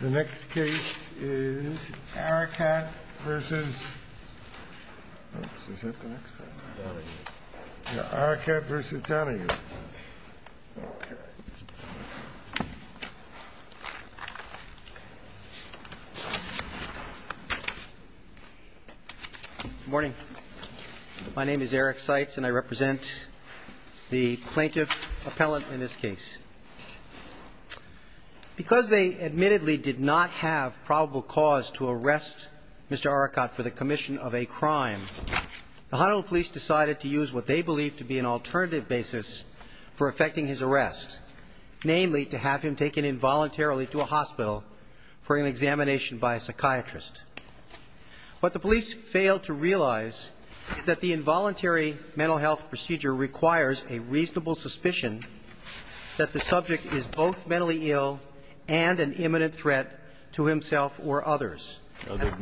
Good morning. My name is Eric Seitz and I represent the plaintiff appellant in this case. I would like to begin by saying that although the plaintiff did not have probable cause to arrest Mr. Arakat for the commission of a crime, the Honolulu police decided to use what they believed to be an alternative basis for effecting his arrest, namely to have him taken involuntarily to a hospital for an examination by a psychiatrist. What the police failed to realize is that the involuntary mental health procedure requires a reasonable suspicion that the subject is both mentally ill and an imminent threat to himself or others. The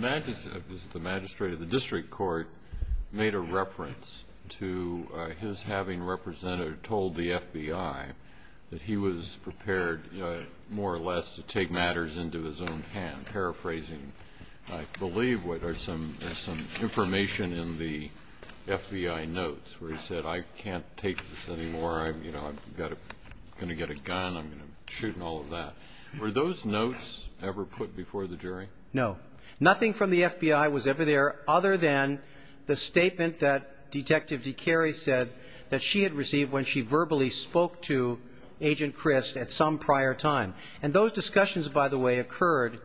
magistrate of the district court made a reference to his having represented or told the FBI that he was prepared more or less to take matters into his own hand, and I'm paraphrasing, I believe, what are some information in the FBI notes where he said, I can't take this anymore, I'm going to get a gun, I'm going to shoot and all of that. Were those notes ever put before the jury? No. Nothing from the FBI was ever there other than the statement that Detective DeCary said that she had received when she verbally spoke to Agent Crist at some prior time. And those discussions, by the way, occurred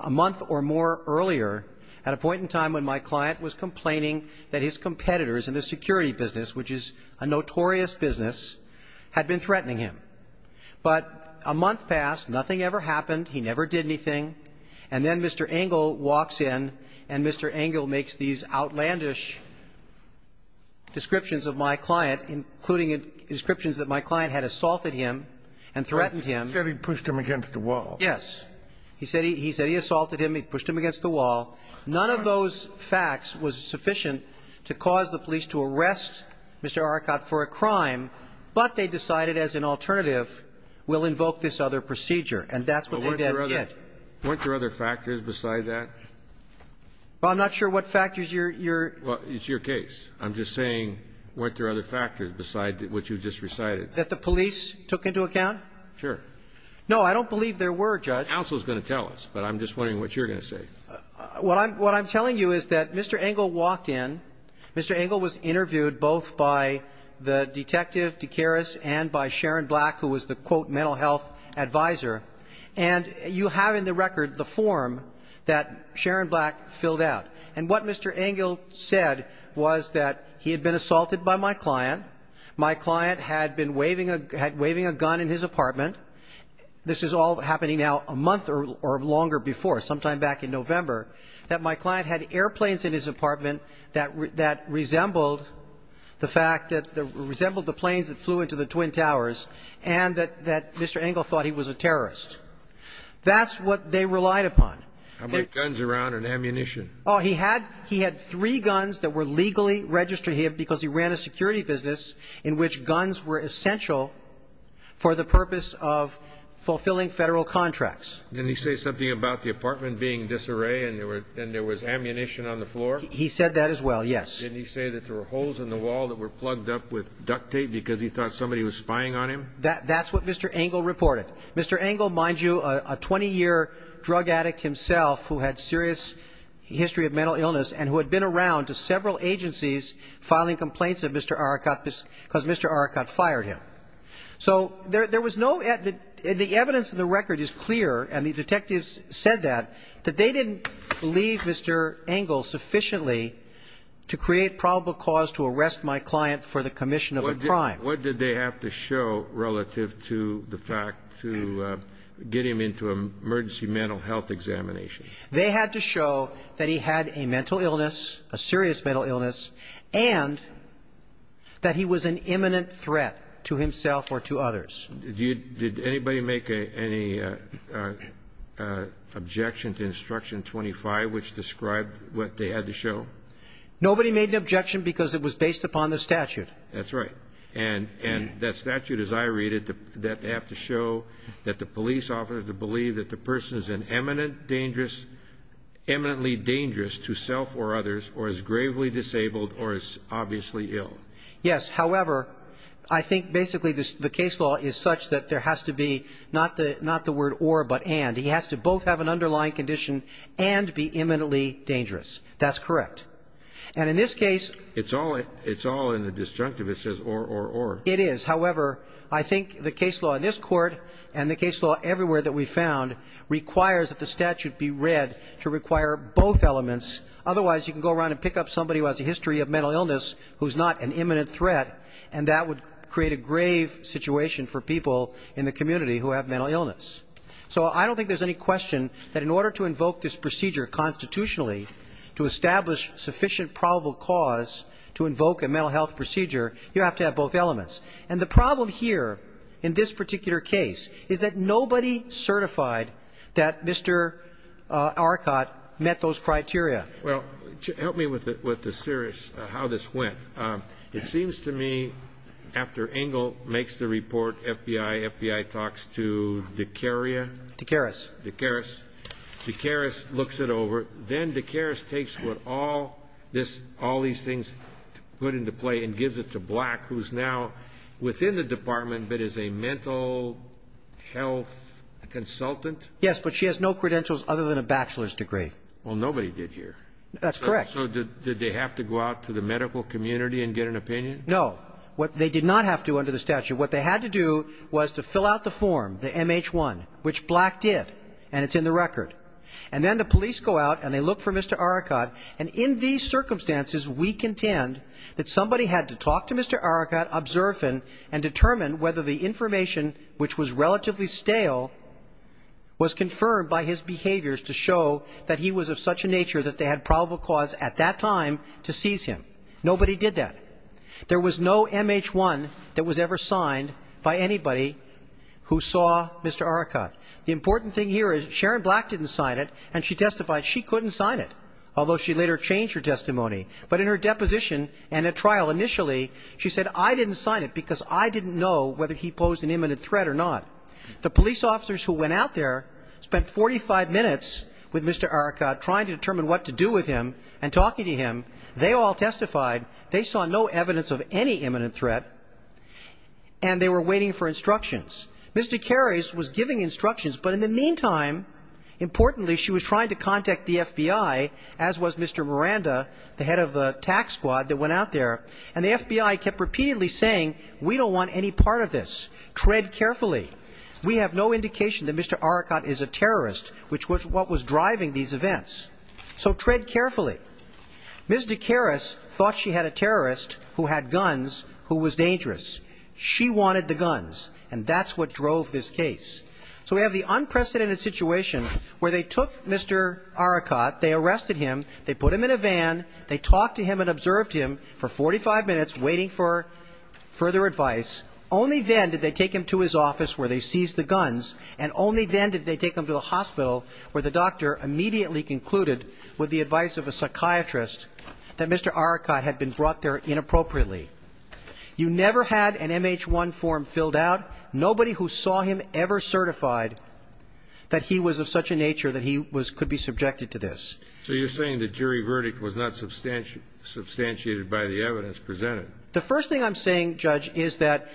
a month or more earlier at a point in time when my client was complaining that his competitors in the security business, which is a notorious business, had been threatening him. But a month passed, nothing ever happened, he never did anything, and then Mr. Engel walks in and Mr. Engel makes these outlandish descriptions of my client, including descriptions that my client had assaulted him and threatened him. He said he pushed him against the wall. Yes. He said he assaulted him, he pushed him against the wall. None of those facts was sufficient to cause the police to arrest Mr. Arracot for a crime, but they decided as an alternative, we'll invoke this other procedure, and that's what they did. Weren't there other factors beside that? Well, I'm not sure what factors your --. Well, it's your case. I'm just saying weren't there other factors beside what you just recited? That the police took into account? Sure. No, I don't believe there were, Judge. Counsel is going to tell us, but I'm just wondering what you're going to say. What I'm telling you is that Mr. Engel walked in, Mr. Engel was interviewed both by the Detective DeCary and by Sharon Black, who was the, quote, mental health advisor, and you have in the record the form that Sharon Black filled out. And what Mr. Engel said was that he had been assaulted by my client, my client had been waving a gun in his apartment. This is all happening now a month or longer before, sometime back in November, that my client had airplanes in his apartment that resembled the fact that the planes that flew into the Twin Towers, and that Mr. Engel thought he was a terrorist. That's what they relied upon. How about guns around and ammunition? Oh, he had three guns that were legally registered, because he ran a security business in which guns were essential for the purpose of fulfilling Federal contracts. Didn't he say something about the apartment being disarray and there was ammunition on the floor? He said that as well, yes. Didn't he say that there were holes in the wall that were plugged up with duct tape because he thought somebody was spying on him? That's what Mr. Engel reported. Mr. Engel, mind you, a 20-year drug addict himself who had serious history of mental illness and who had been around to several agencies filing complaints of Mr. Arakat because Mr. Arakat fired him. So there was no evidence. The evidence in the record is clear, and the detectives said that, that they didn't believe Mr. Engel sufficiently to create probable cause to arrest my client for the commission of a crime. What did they have to show relative to the fact to get him into an emergency mental health examination? They had to show that he had a mental illness, a serious mental illness, and that he was an imminent threat to himself or to others. Did you do anybody make any objection to Instruction 25 which described what they had to show? Nobody made an objection because it was based upon the statute. That's right. And that statute, as I read it, that they have to show that the police officer had to believe that the person is an imminent dangerous, eminently dangerous to self or others or is gravely disabled or is obviously ill. Yes. However, I think basically the case law is such that there has to be not the word or but and. He has to both have an underlying condition and be imminently dangerous. That's correct. And in this case It's all in the disjunctive. It says or, or, or. It is. However, I think the case law in this Court and the case law everywhere that we found requires that the statute be read to require both elements. Otherwise, you can go around and pick up somebody who has a history of mental illness who's not an imminent threat, and that would create a grave situation for people in the community who have mental illness. So I don't think there's any question that in order to invoke this procedure constitutionally to establish sufficient probable cause to invoke a mental health procedure, you have to have both elements. And the problem here in this particular case is that nobody certified that Mr. Well, help me with the series, how this went. It seems to me after Engle makes the report, FBI, FBI talks to D'Caria. D'Caris. D'Caris. D'Caris looks it over. Then D'Caris takes what all this, all these things put into play and gives it to Black, who's now within the department but is a mental health consultant. Yes, but she has no credentials other than a bachelor's degree. Well, nobody did here. That's correct. So did they have to go out to the medical community and get an opinion? No. They did not have to under the statute. What they had to do was to fill out the form, the MH-1, which Black did, and it's in the record. And then the police go out and they look for Mr. Arakat. And in these circumstances, we contend that somebody had to talk to Mr. Arakat, observe him, and determine whether the information, which was relatively stale, was confirmed by his behaviors to show that he was of such a nature that they had probable cause at that time to seize him. Nobody did that. There was no MH-1 that was ever signed by anybody who saw Mr. Arakat. The important thing here is Sharon Black didn't sign it, and she testified she couldn't sign it, although she later changed her testimony. But in her deposition and at trial initially, she said, I didn't sign it because I didn't know whether he posed an imminent threat or not. The police officers who went out there spent 45 minutes with Mr. Arakat, trying to determine what to do with him and talking to him. They all testified. They saw no evidence of any imminent threat, and they were waiting for instructions. Ms. DeCaris was giving instructions, but in the meantime, importantly, she was trying to contact the FBI, as was Mr. Miranda, the head of the tax squad that went out there. And the FBI kept repeatedly saying, we don't want any part of this. Tread carefully. We have no indication that Mr. Arakat is a terrorist, which was what was driving these events. So tread carefully. Ms. DeCaris thought she had a terrorist who had guns who was dangerous. She wanted the guns, and that's what drove this case. So we have the unprecedented situation where they took Mr. Arakat, they arrested him, they put him in a van, they talked to him and observed him for 45 minutes, waiting for further advice. Only then did they take him to his office where they seized the guns, and only then did they take him to the hospital where the doctor immediately concluded with the advice of a psychiatrist that Mr. Arakat had been brought there inappropriately. You never had an MH-1 form filled out. Nobody who saw him ever certified that he was of such a nature that he could be subjected to this. So you're saying the jury verdict was not substantiated by the evidence presented? The first thing I'm saying, Judge, is that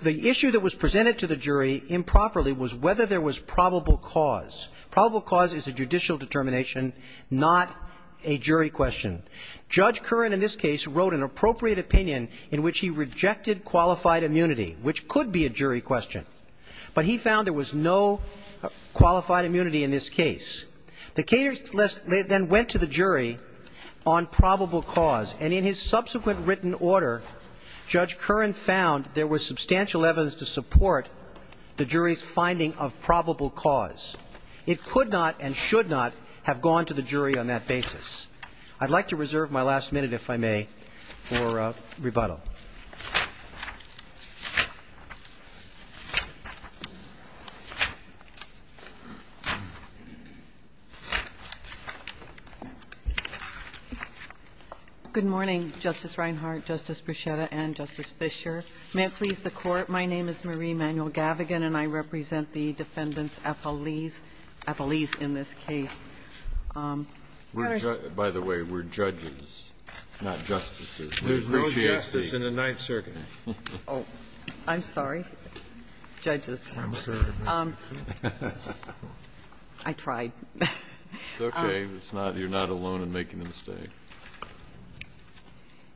the issue that was presented to the jury improperly was whether there was probable cause. Probable cause is a judicial determination, not a jury question. Judge Curran in this case wrote an appropriate opinion in which he rejected qualified immunity, which could be a jury question. But he found there was no qualified immunity in this case. The case then went to the jury on probable cause. And in his subsequent written order, Judge Curran found there was substantial evidence to support the jury's finding of probable cause. It could not and should not have gone to the jury on that basis. I'd like to reserve my last minute, if I may, for rebuttal. Good morning, Justice Reinhart, Justice Bruchetta, and Justice Fischer. May it please the Court. My name is Marie Manuel-Gavigan, and I represent the defendants' affilies in this case. Breyer, by the way, we're judges, not justices. There's no justice in the Ninth Circuit. Oh, I'm sorry, judges. I'm sorry. I tried. It's okay. It's not you're not alone in making a mistake.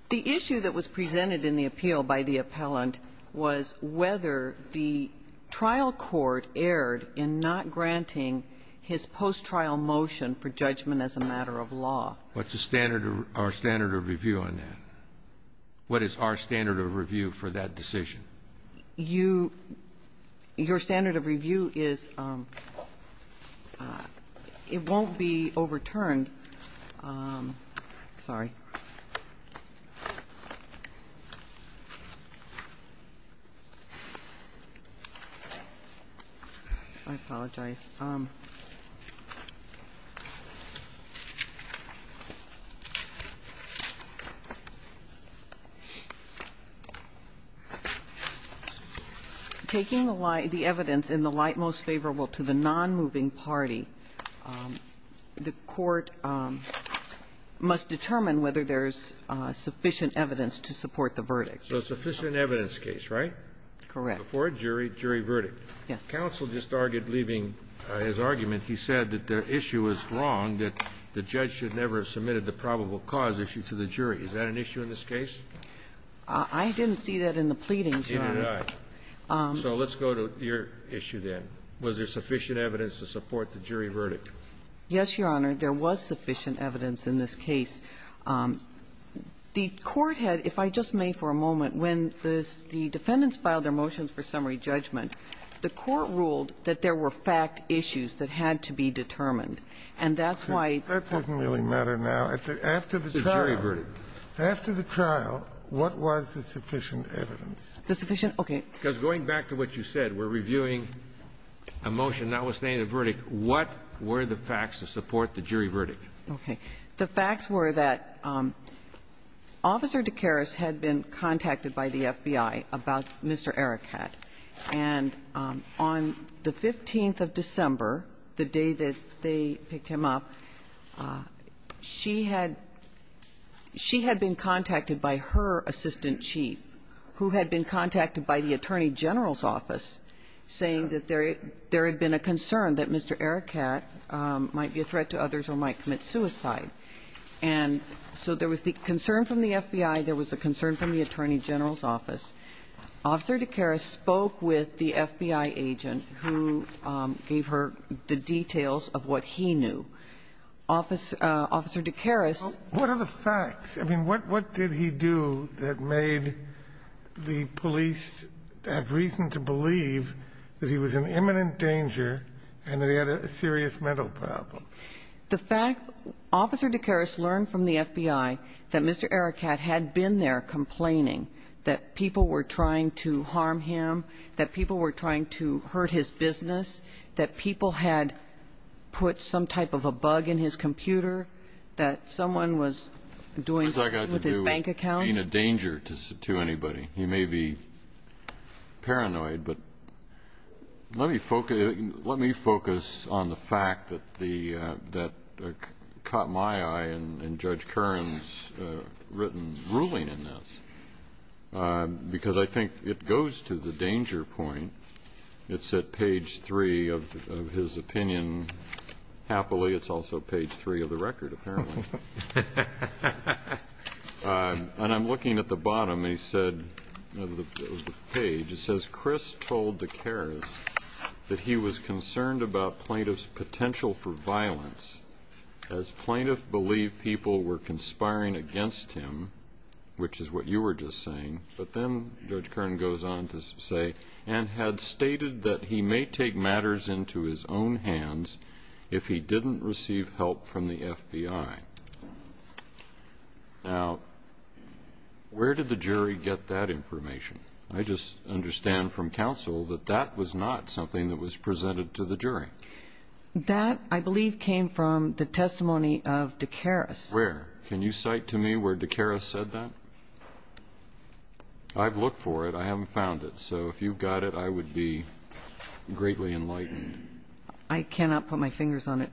The issue that was presented in the appeal by the appellant was whether the trial court erred in not granting his post-trial motion for judgment as a matter of law. What's the standard or standard of review on that? What is our standard of review for that decision? Your standard of review is it won't be overturned. Sorry. I apologize. Taking the evidence in the light most favorable to the non-moving party, the court must determine whether there's sufficient evidence to support the verdict. So sufficient evidence case, right? Correct. Before a jury, jury verdict. Yes. Counsel just argued, leaving his argument, he said that the issue was wrong, that the judge should never have submitted the probable cause issue to the jury. Is that an issue in this case? I didn't see that in the pleadings, Your Honor. Neither did I. So let's go to your issue then. Was there sufficient evidence to support the jury verdict? Yes, Your Honor. There was sufficient evidence in this case. The court had, if I just may for a moment, when the defendants filed their motions for summary judgment, the court ruled that there were fact issues that had to be determined. And that's why the court ruled that. That doesn't really matter now. After the trial. The jury verdict. After the trial, what was the sufficient evidence? The sufficient, okay. Because going back to what you said, we're reviewing a motion notwithstanding a verdict, what were the facts to support the jury verdict? Okay. The facts were that Officer DeCaris had been contacted by the FBI about Mr. Erekat. And on the 15th of December, the day that they picked him up, she had been contacted by her assistant chief, who had been contacted by the Attorney General's office saying that there had been a concern that Mr. Erekat might be a threat to others or might commit suicide. And so there was the concern from the FBI. There was a concern from the Attorney General's office. Officer DeCaris spoke with the FBI agent who gave her the details of what he knew. Officer DeCaris. What are the facts? I mean, what did he do that made the police have reason to believe that he was in imminent danger and that he had a serious mental problem? The fact Officer DeCaris learned from the FBI that Mr. Erekat had been there complaining that people were trying to harm him, that people were trying to hurt his business, that people had put some type of a bug in his computer, that someone was doing something with his bank account. What has that got to do with being a danger to anybody? You may be paranoid, but let me focus on the fact that caught my eye in Judge Kern's written ruling in this, because I think it goes to the danger point. It's at page three of his opinion. Happily, it's also page three of the record, apparently. And I'm looking at the bottom of the page. It says, Chris told DeCaris that he was concerned about plaintiff's potential for violence, as plaintiffs believed people were conspiring against him, which is what you were just saying. But then Judge Kern goes on to say, and had stated that he may take matters into his own hands if he didn't receive help from the FBI. Now, where did the jury get that information? I just understand from counsel that that was not something that was presented to the jury. That, I believe, came from the testimony of DeCaris. Where? Can you cite to me where DeCaris said that? I've looked for it. I haven't found it. So if you've got it, I would be greatly enlightened. I cannot put my fingers on it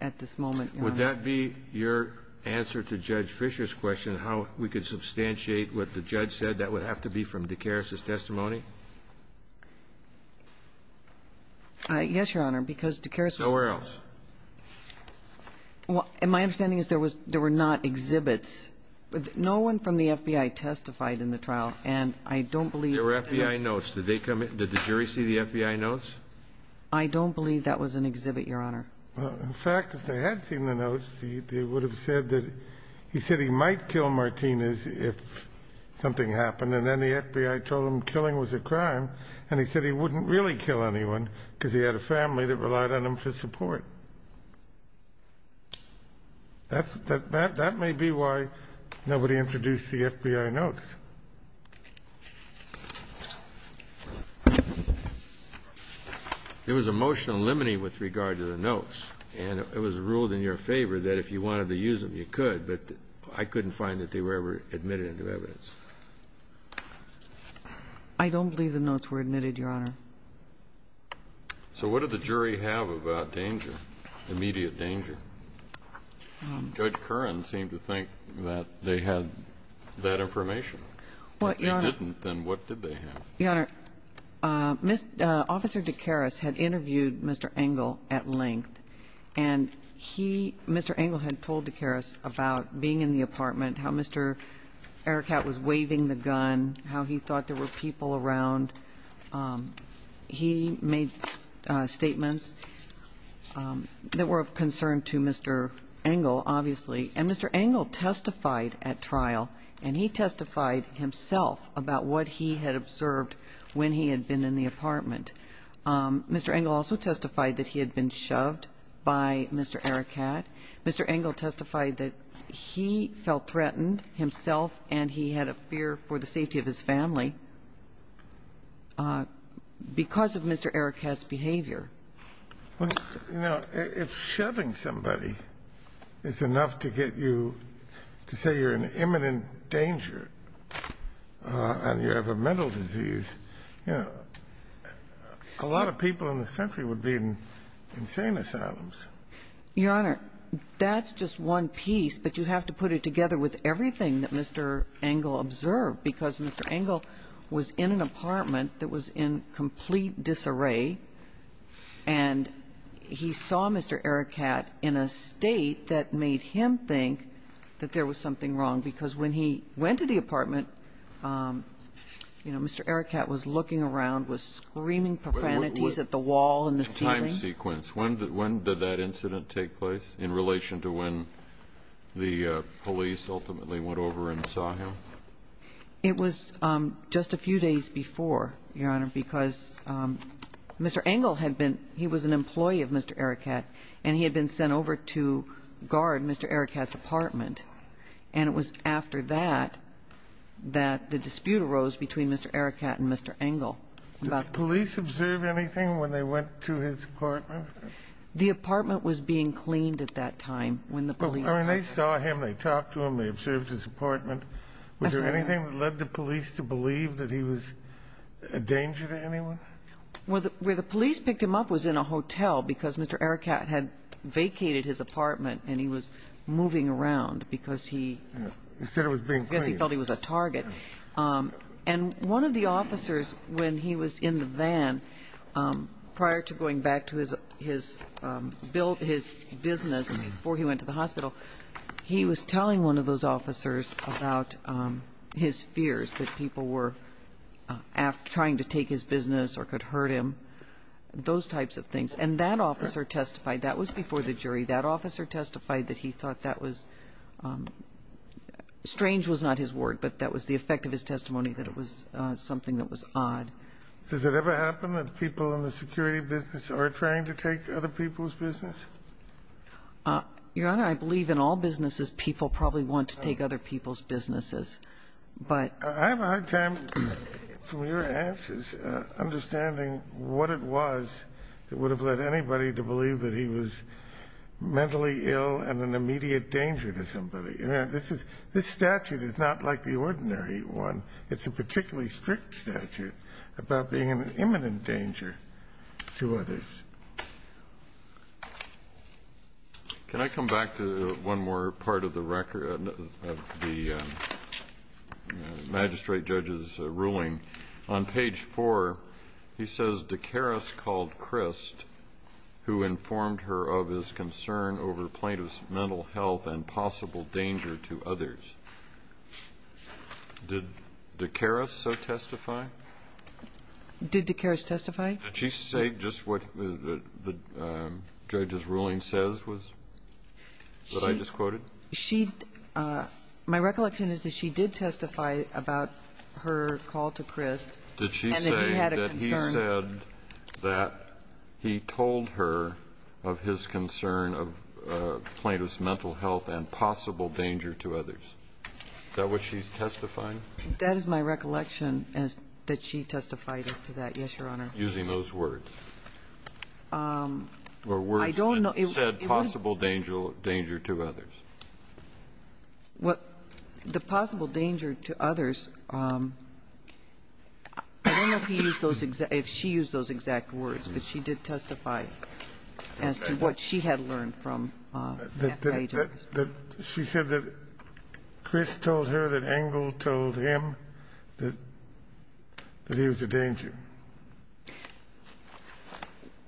at this moment, Your Honor. Would that be your answer to Judge Fischer's question, how we could substantiate what the judge said? That would have to be from DeCaris's testimony? Yes, Your Honor, because DeCaris would have said that. Nowhere else. My understanding is there were not exhibits. No one from the FBI testified in the trial. And I don't believe that was an exhibit. There were FBI notes. Did the jury see the FBI notes? I don't believe that was an exhibit, Your Honor. In fact, if they had seen the notes, they would have said that he said he might kill Martinez if something happened. And then the FBI told him killing was a crime, and he said he wouldn't really kill anyone because he had a family that relied on him for support. That may be why nobody introduced the FBI notes. There was a motion limiting with regard to the notes, and it was ruled in your favor that if you wanted to use them, you could. But I couldn't find that they were ever admitted into evidence. I don't believe the notes were admitted, Your Honor. So what did the jury have about danger, immediate danger? Judge Curran seemed to think that they had that information. If they didn't, then what did they have? Your Honor, Officer DeCaris had interviewed Mr. Engle at length, and Mr. Engle had told DeCaris about being in the apartment, how Mr. Erekat was waving the gun, how he thought there were people around. He made statements that were of concern to Mr. Engle, obviously, and Mr. Engle testified at trial, and he testified himself about what he had observed when he had been in the apartment. Mr. Engle also testified that he had been shoved by Mr. Erekat. Mr. Engle testified that he felt threatened himself and he had a fear for the safety of his family because of Mr. Erekat's behavior. Well, you know, if shoving somebody is enough to get you to say you're in imminent danger and you have a mental disease, you know, a lot of people in this country would be in insane asylums. Your Honor, that's just one piece, but you have to put it together with everything that Mr. Engle observed, because Mr. Engle was in an apartment that was in complete disarray, and he saw Mr. Erekat in a state that made him think that there was something wrong, because when he went to the apartment, you know, Mr. Erekat was looking around, was screaming profanities at the wall and the ceiling. That was a part of the case, because Mr. Erekat was a person who was not used to being looked at. Mr. Engle testified that he had been in an apartment that was in complete disarray, and he saw Mr. Erekat in a state that made him think that there was something wrong, and he saw Mr. Erekat in a state that made him think that there was something wrong. The apartment was being cleaned at that time when the police arrived. I mean, they saw him. They talked to him. They observed his apartment. Was there anything that led the police to believe that he was a danger to anyone? Well, where the police picked him up was in a hotel, because Mr. Erekat had vacated his apartment, and he was moving around, because he felt he was a target. And one of the officers, when he was in the van, prior to going back to his business before he went to the hospital, he was telling one of those officers about his fears that people were trying to take his business or could hurt him, those types of things. And that officer testified. That was before the jury. That officer testified that he thought that was strange was not his word, but that was the effect of his testimony, that it was something that was odd. Does it ever happen that people in the security business are trying to take other people's business? Your Honor, I believe in all businesses, people probably want to take other people's businesses. But ---- I have a hard time, from your answers, understanding what it was that would have led anybody to believe that he was mentally ill and an immediate danger to somebody. This statute is not like the ordinary one. It's a particularly strict statute about being an imminent danger to others. Can I come back to one more part of the magistrate judge's ruling? On page 4, he says, Did Dakaris testify? Did Dakaris testify? Did she say just what the judge's ruling says was, what I just quoted? She ---- my recollection is that she did testify about her call to Crist. Did she say that he said that he told her of his concern of plaintiff's mental health and possible danger to others? Is that what she's testifying? That is my recollection, that she testified as to that, yes, Your Honor. Using those words? Or words that said possible danger to others? Well, the possible danger to others, I don't know if he used those exact ---- if she used those exact words, but she did testify as to what she had learned from FBI agents. She said that Crist told her that Engle told him that he was a danger.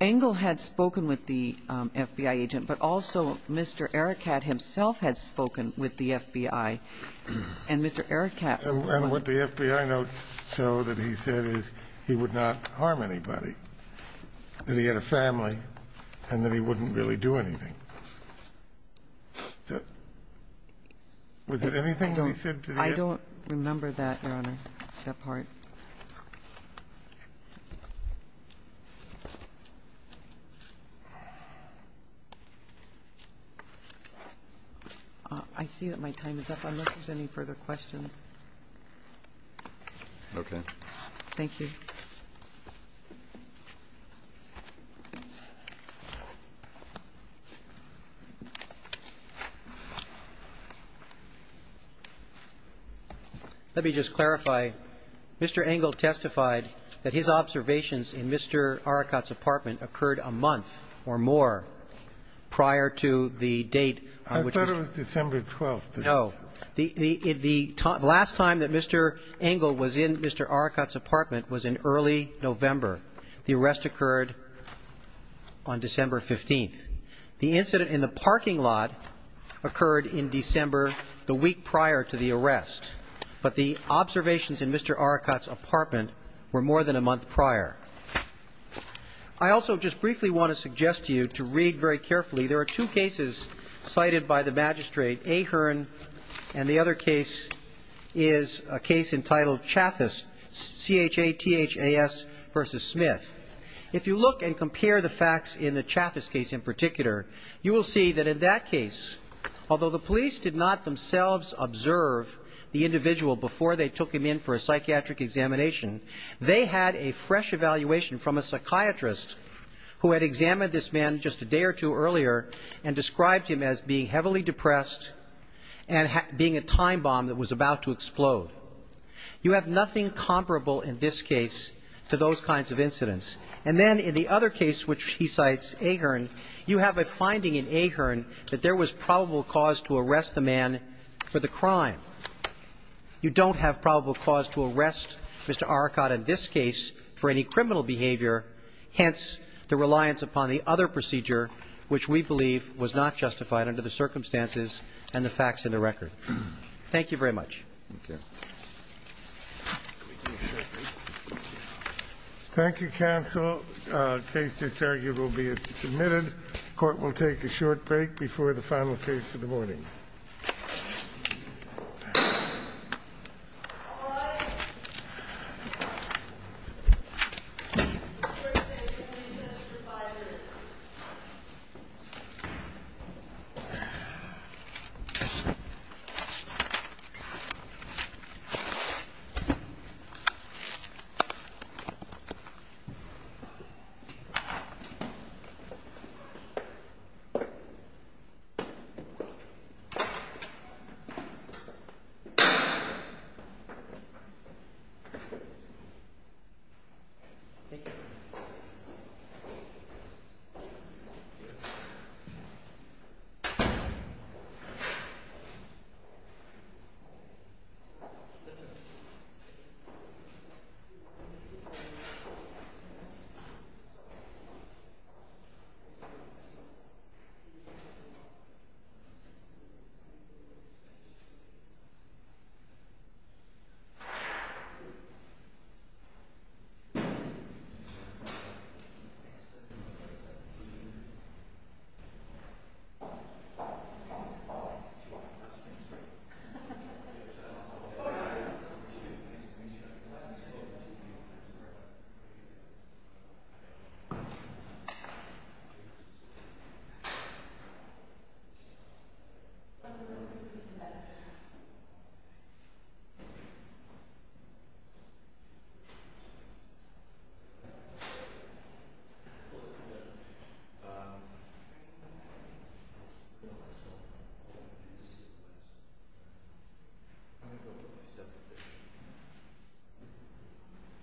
Engle had spoken with the FBI agent, but also Mr. Ericat himself had spoken with the FBI, and Mr. Ericat ---- And what the FBI notes show that he said is he would not harm anybody, that he had a family, and that he wouldn't really do anything. Was it anything that he said to the ---- I see that my time is up, unless there's any further questions. Okay. Thank you. Let me just clarify. Mr. Engle testified that his observations in Mr. Ericat's apartment occurred a month or more prior to the date on which ---- I thought it was December 12th. No. The last time that Mr. Engle was in Mr. Ericat's apartment was in early November. The arrest occurred on December 15th. The incident in the parking lot occurred in December, the week prior to the arrest. But the observations in Mr. Ericat's apartment were more than a month prior. I also just briefly want to suggest to you to read very carefully, there are two cases cited by the magistrate, Ahearn, and the other case is a case entitled Chathas, C-H-A-T-H-A-S versus Smith. If you look and compare the facts in the Chathas case in particular, you will see that in that case, although the police did not themselves observe the individual before they took him in for a psychiatric examination, they had a fresh evaluation from a psychiatrist who had examined this man just a day or two earlier and described him as being heavily depressed and being a time bomb that was about to explode. You have nothing comparable in this case to those kinds of incidents. And then in the other case, which he cites, Ahearn, you have a finding in Ahearn that there was probable cause to arrest the man for the crime. You don't have probable cause to arrest Mr. Ericat in this case for any criminal behavior, hence the reliance upon the other procedure, which we believe was not justified under the circumstances and the facts in the record. Thank you very much. Thank you. Thank you, counsel. Case disargued will be submitted. Court will take a short break before the final case of the morning. Thank you.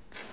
Thank you.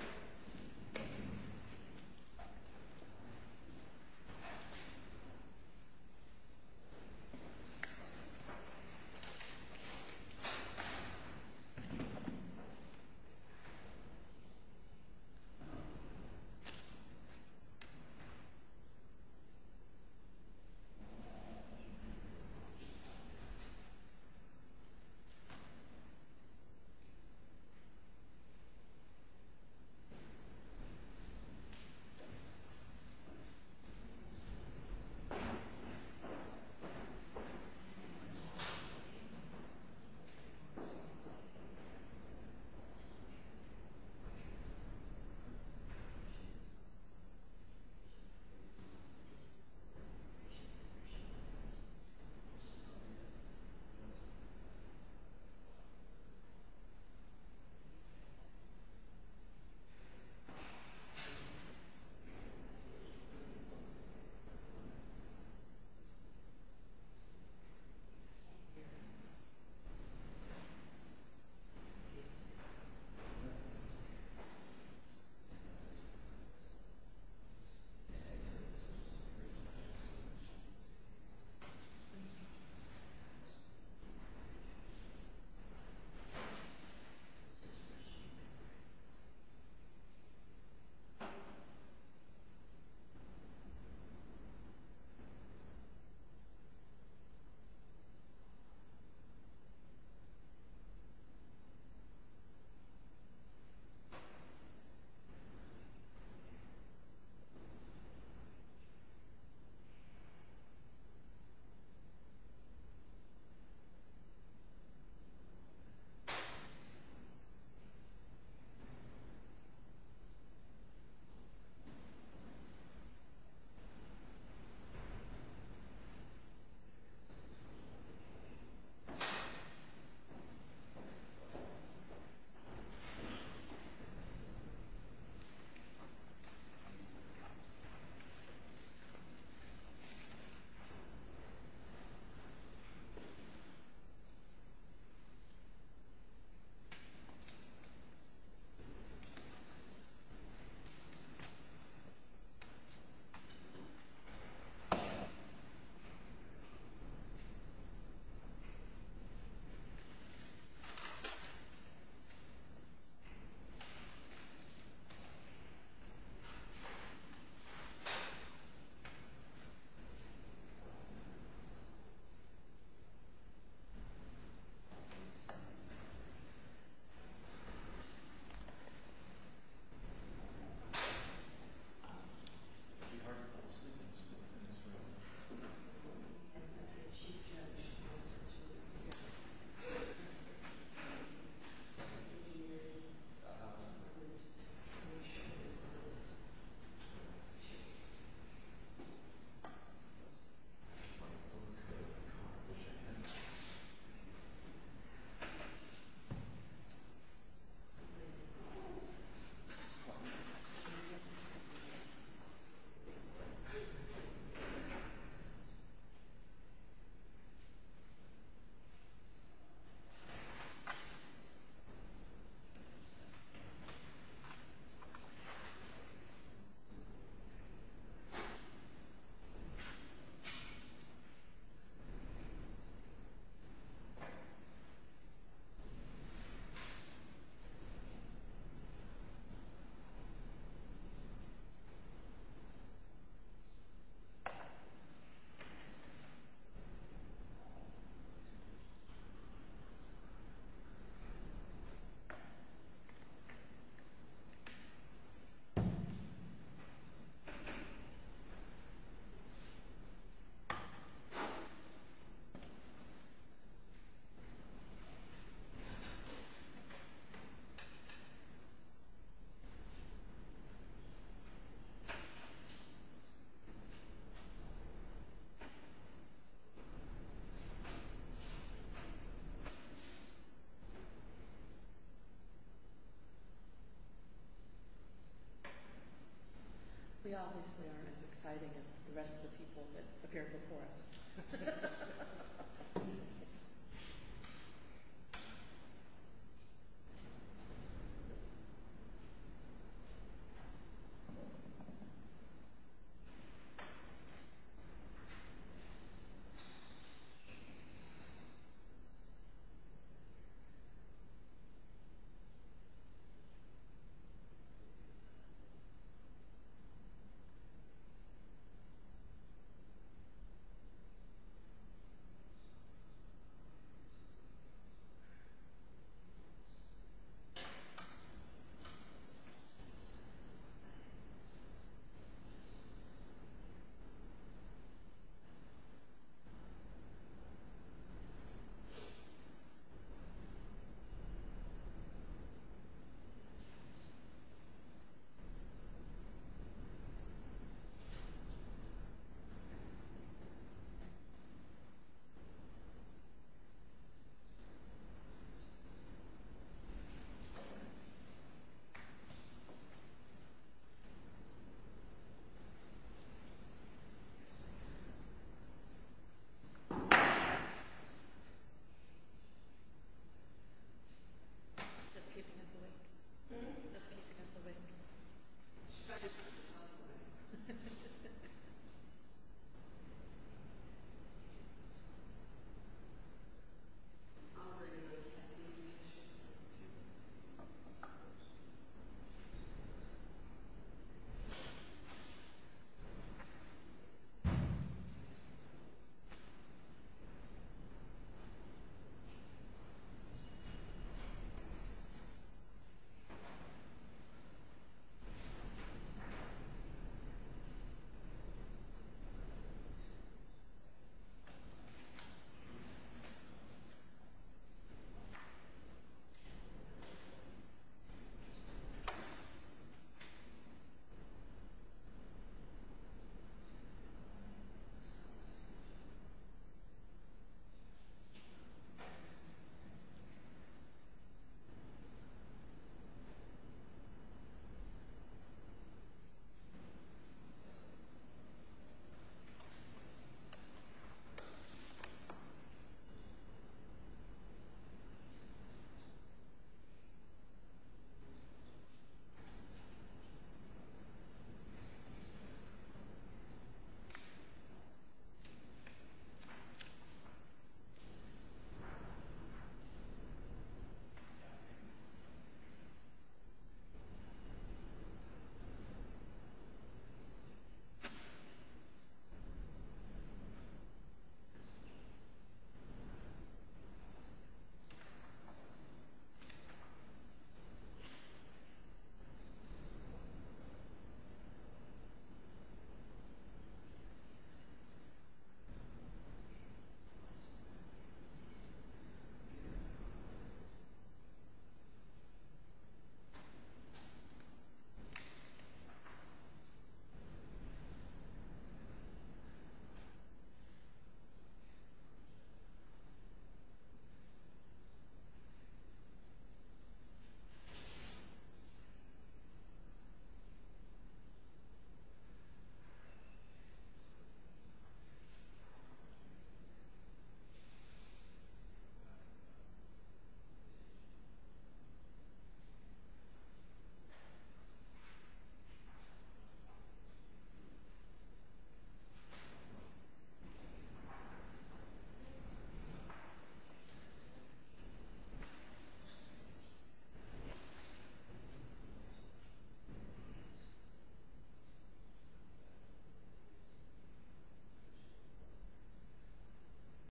Thank you. Thank you. Thank you. Thank you. Thank you. Thank you. Thank you. Thank you. Thank you. Thank you. Thank you. We obviously aren't as exciting as the rest of the people that appeared before us. Thank you. Thank you. Thank you. Thank you. Thank you. Thank you. Thank you.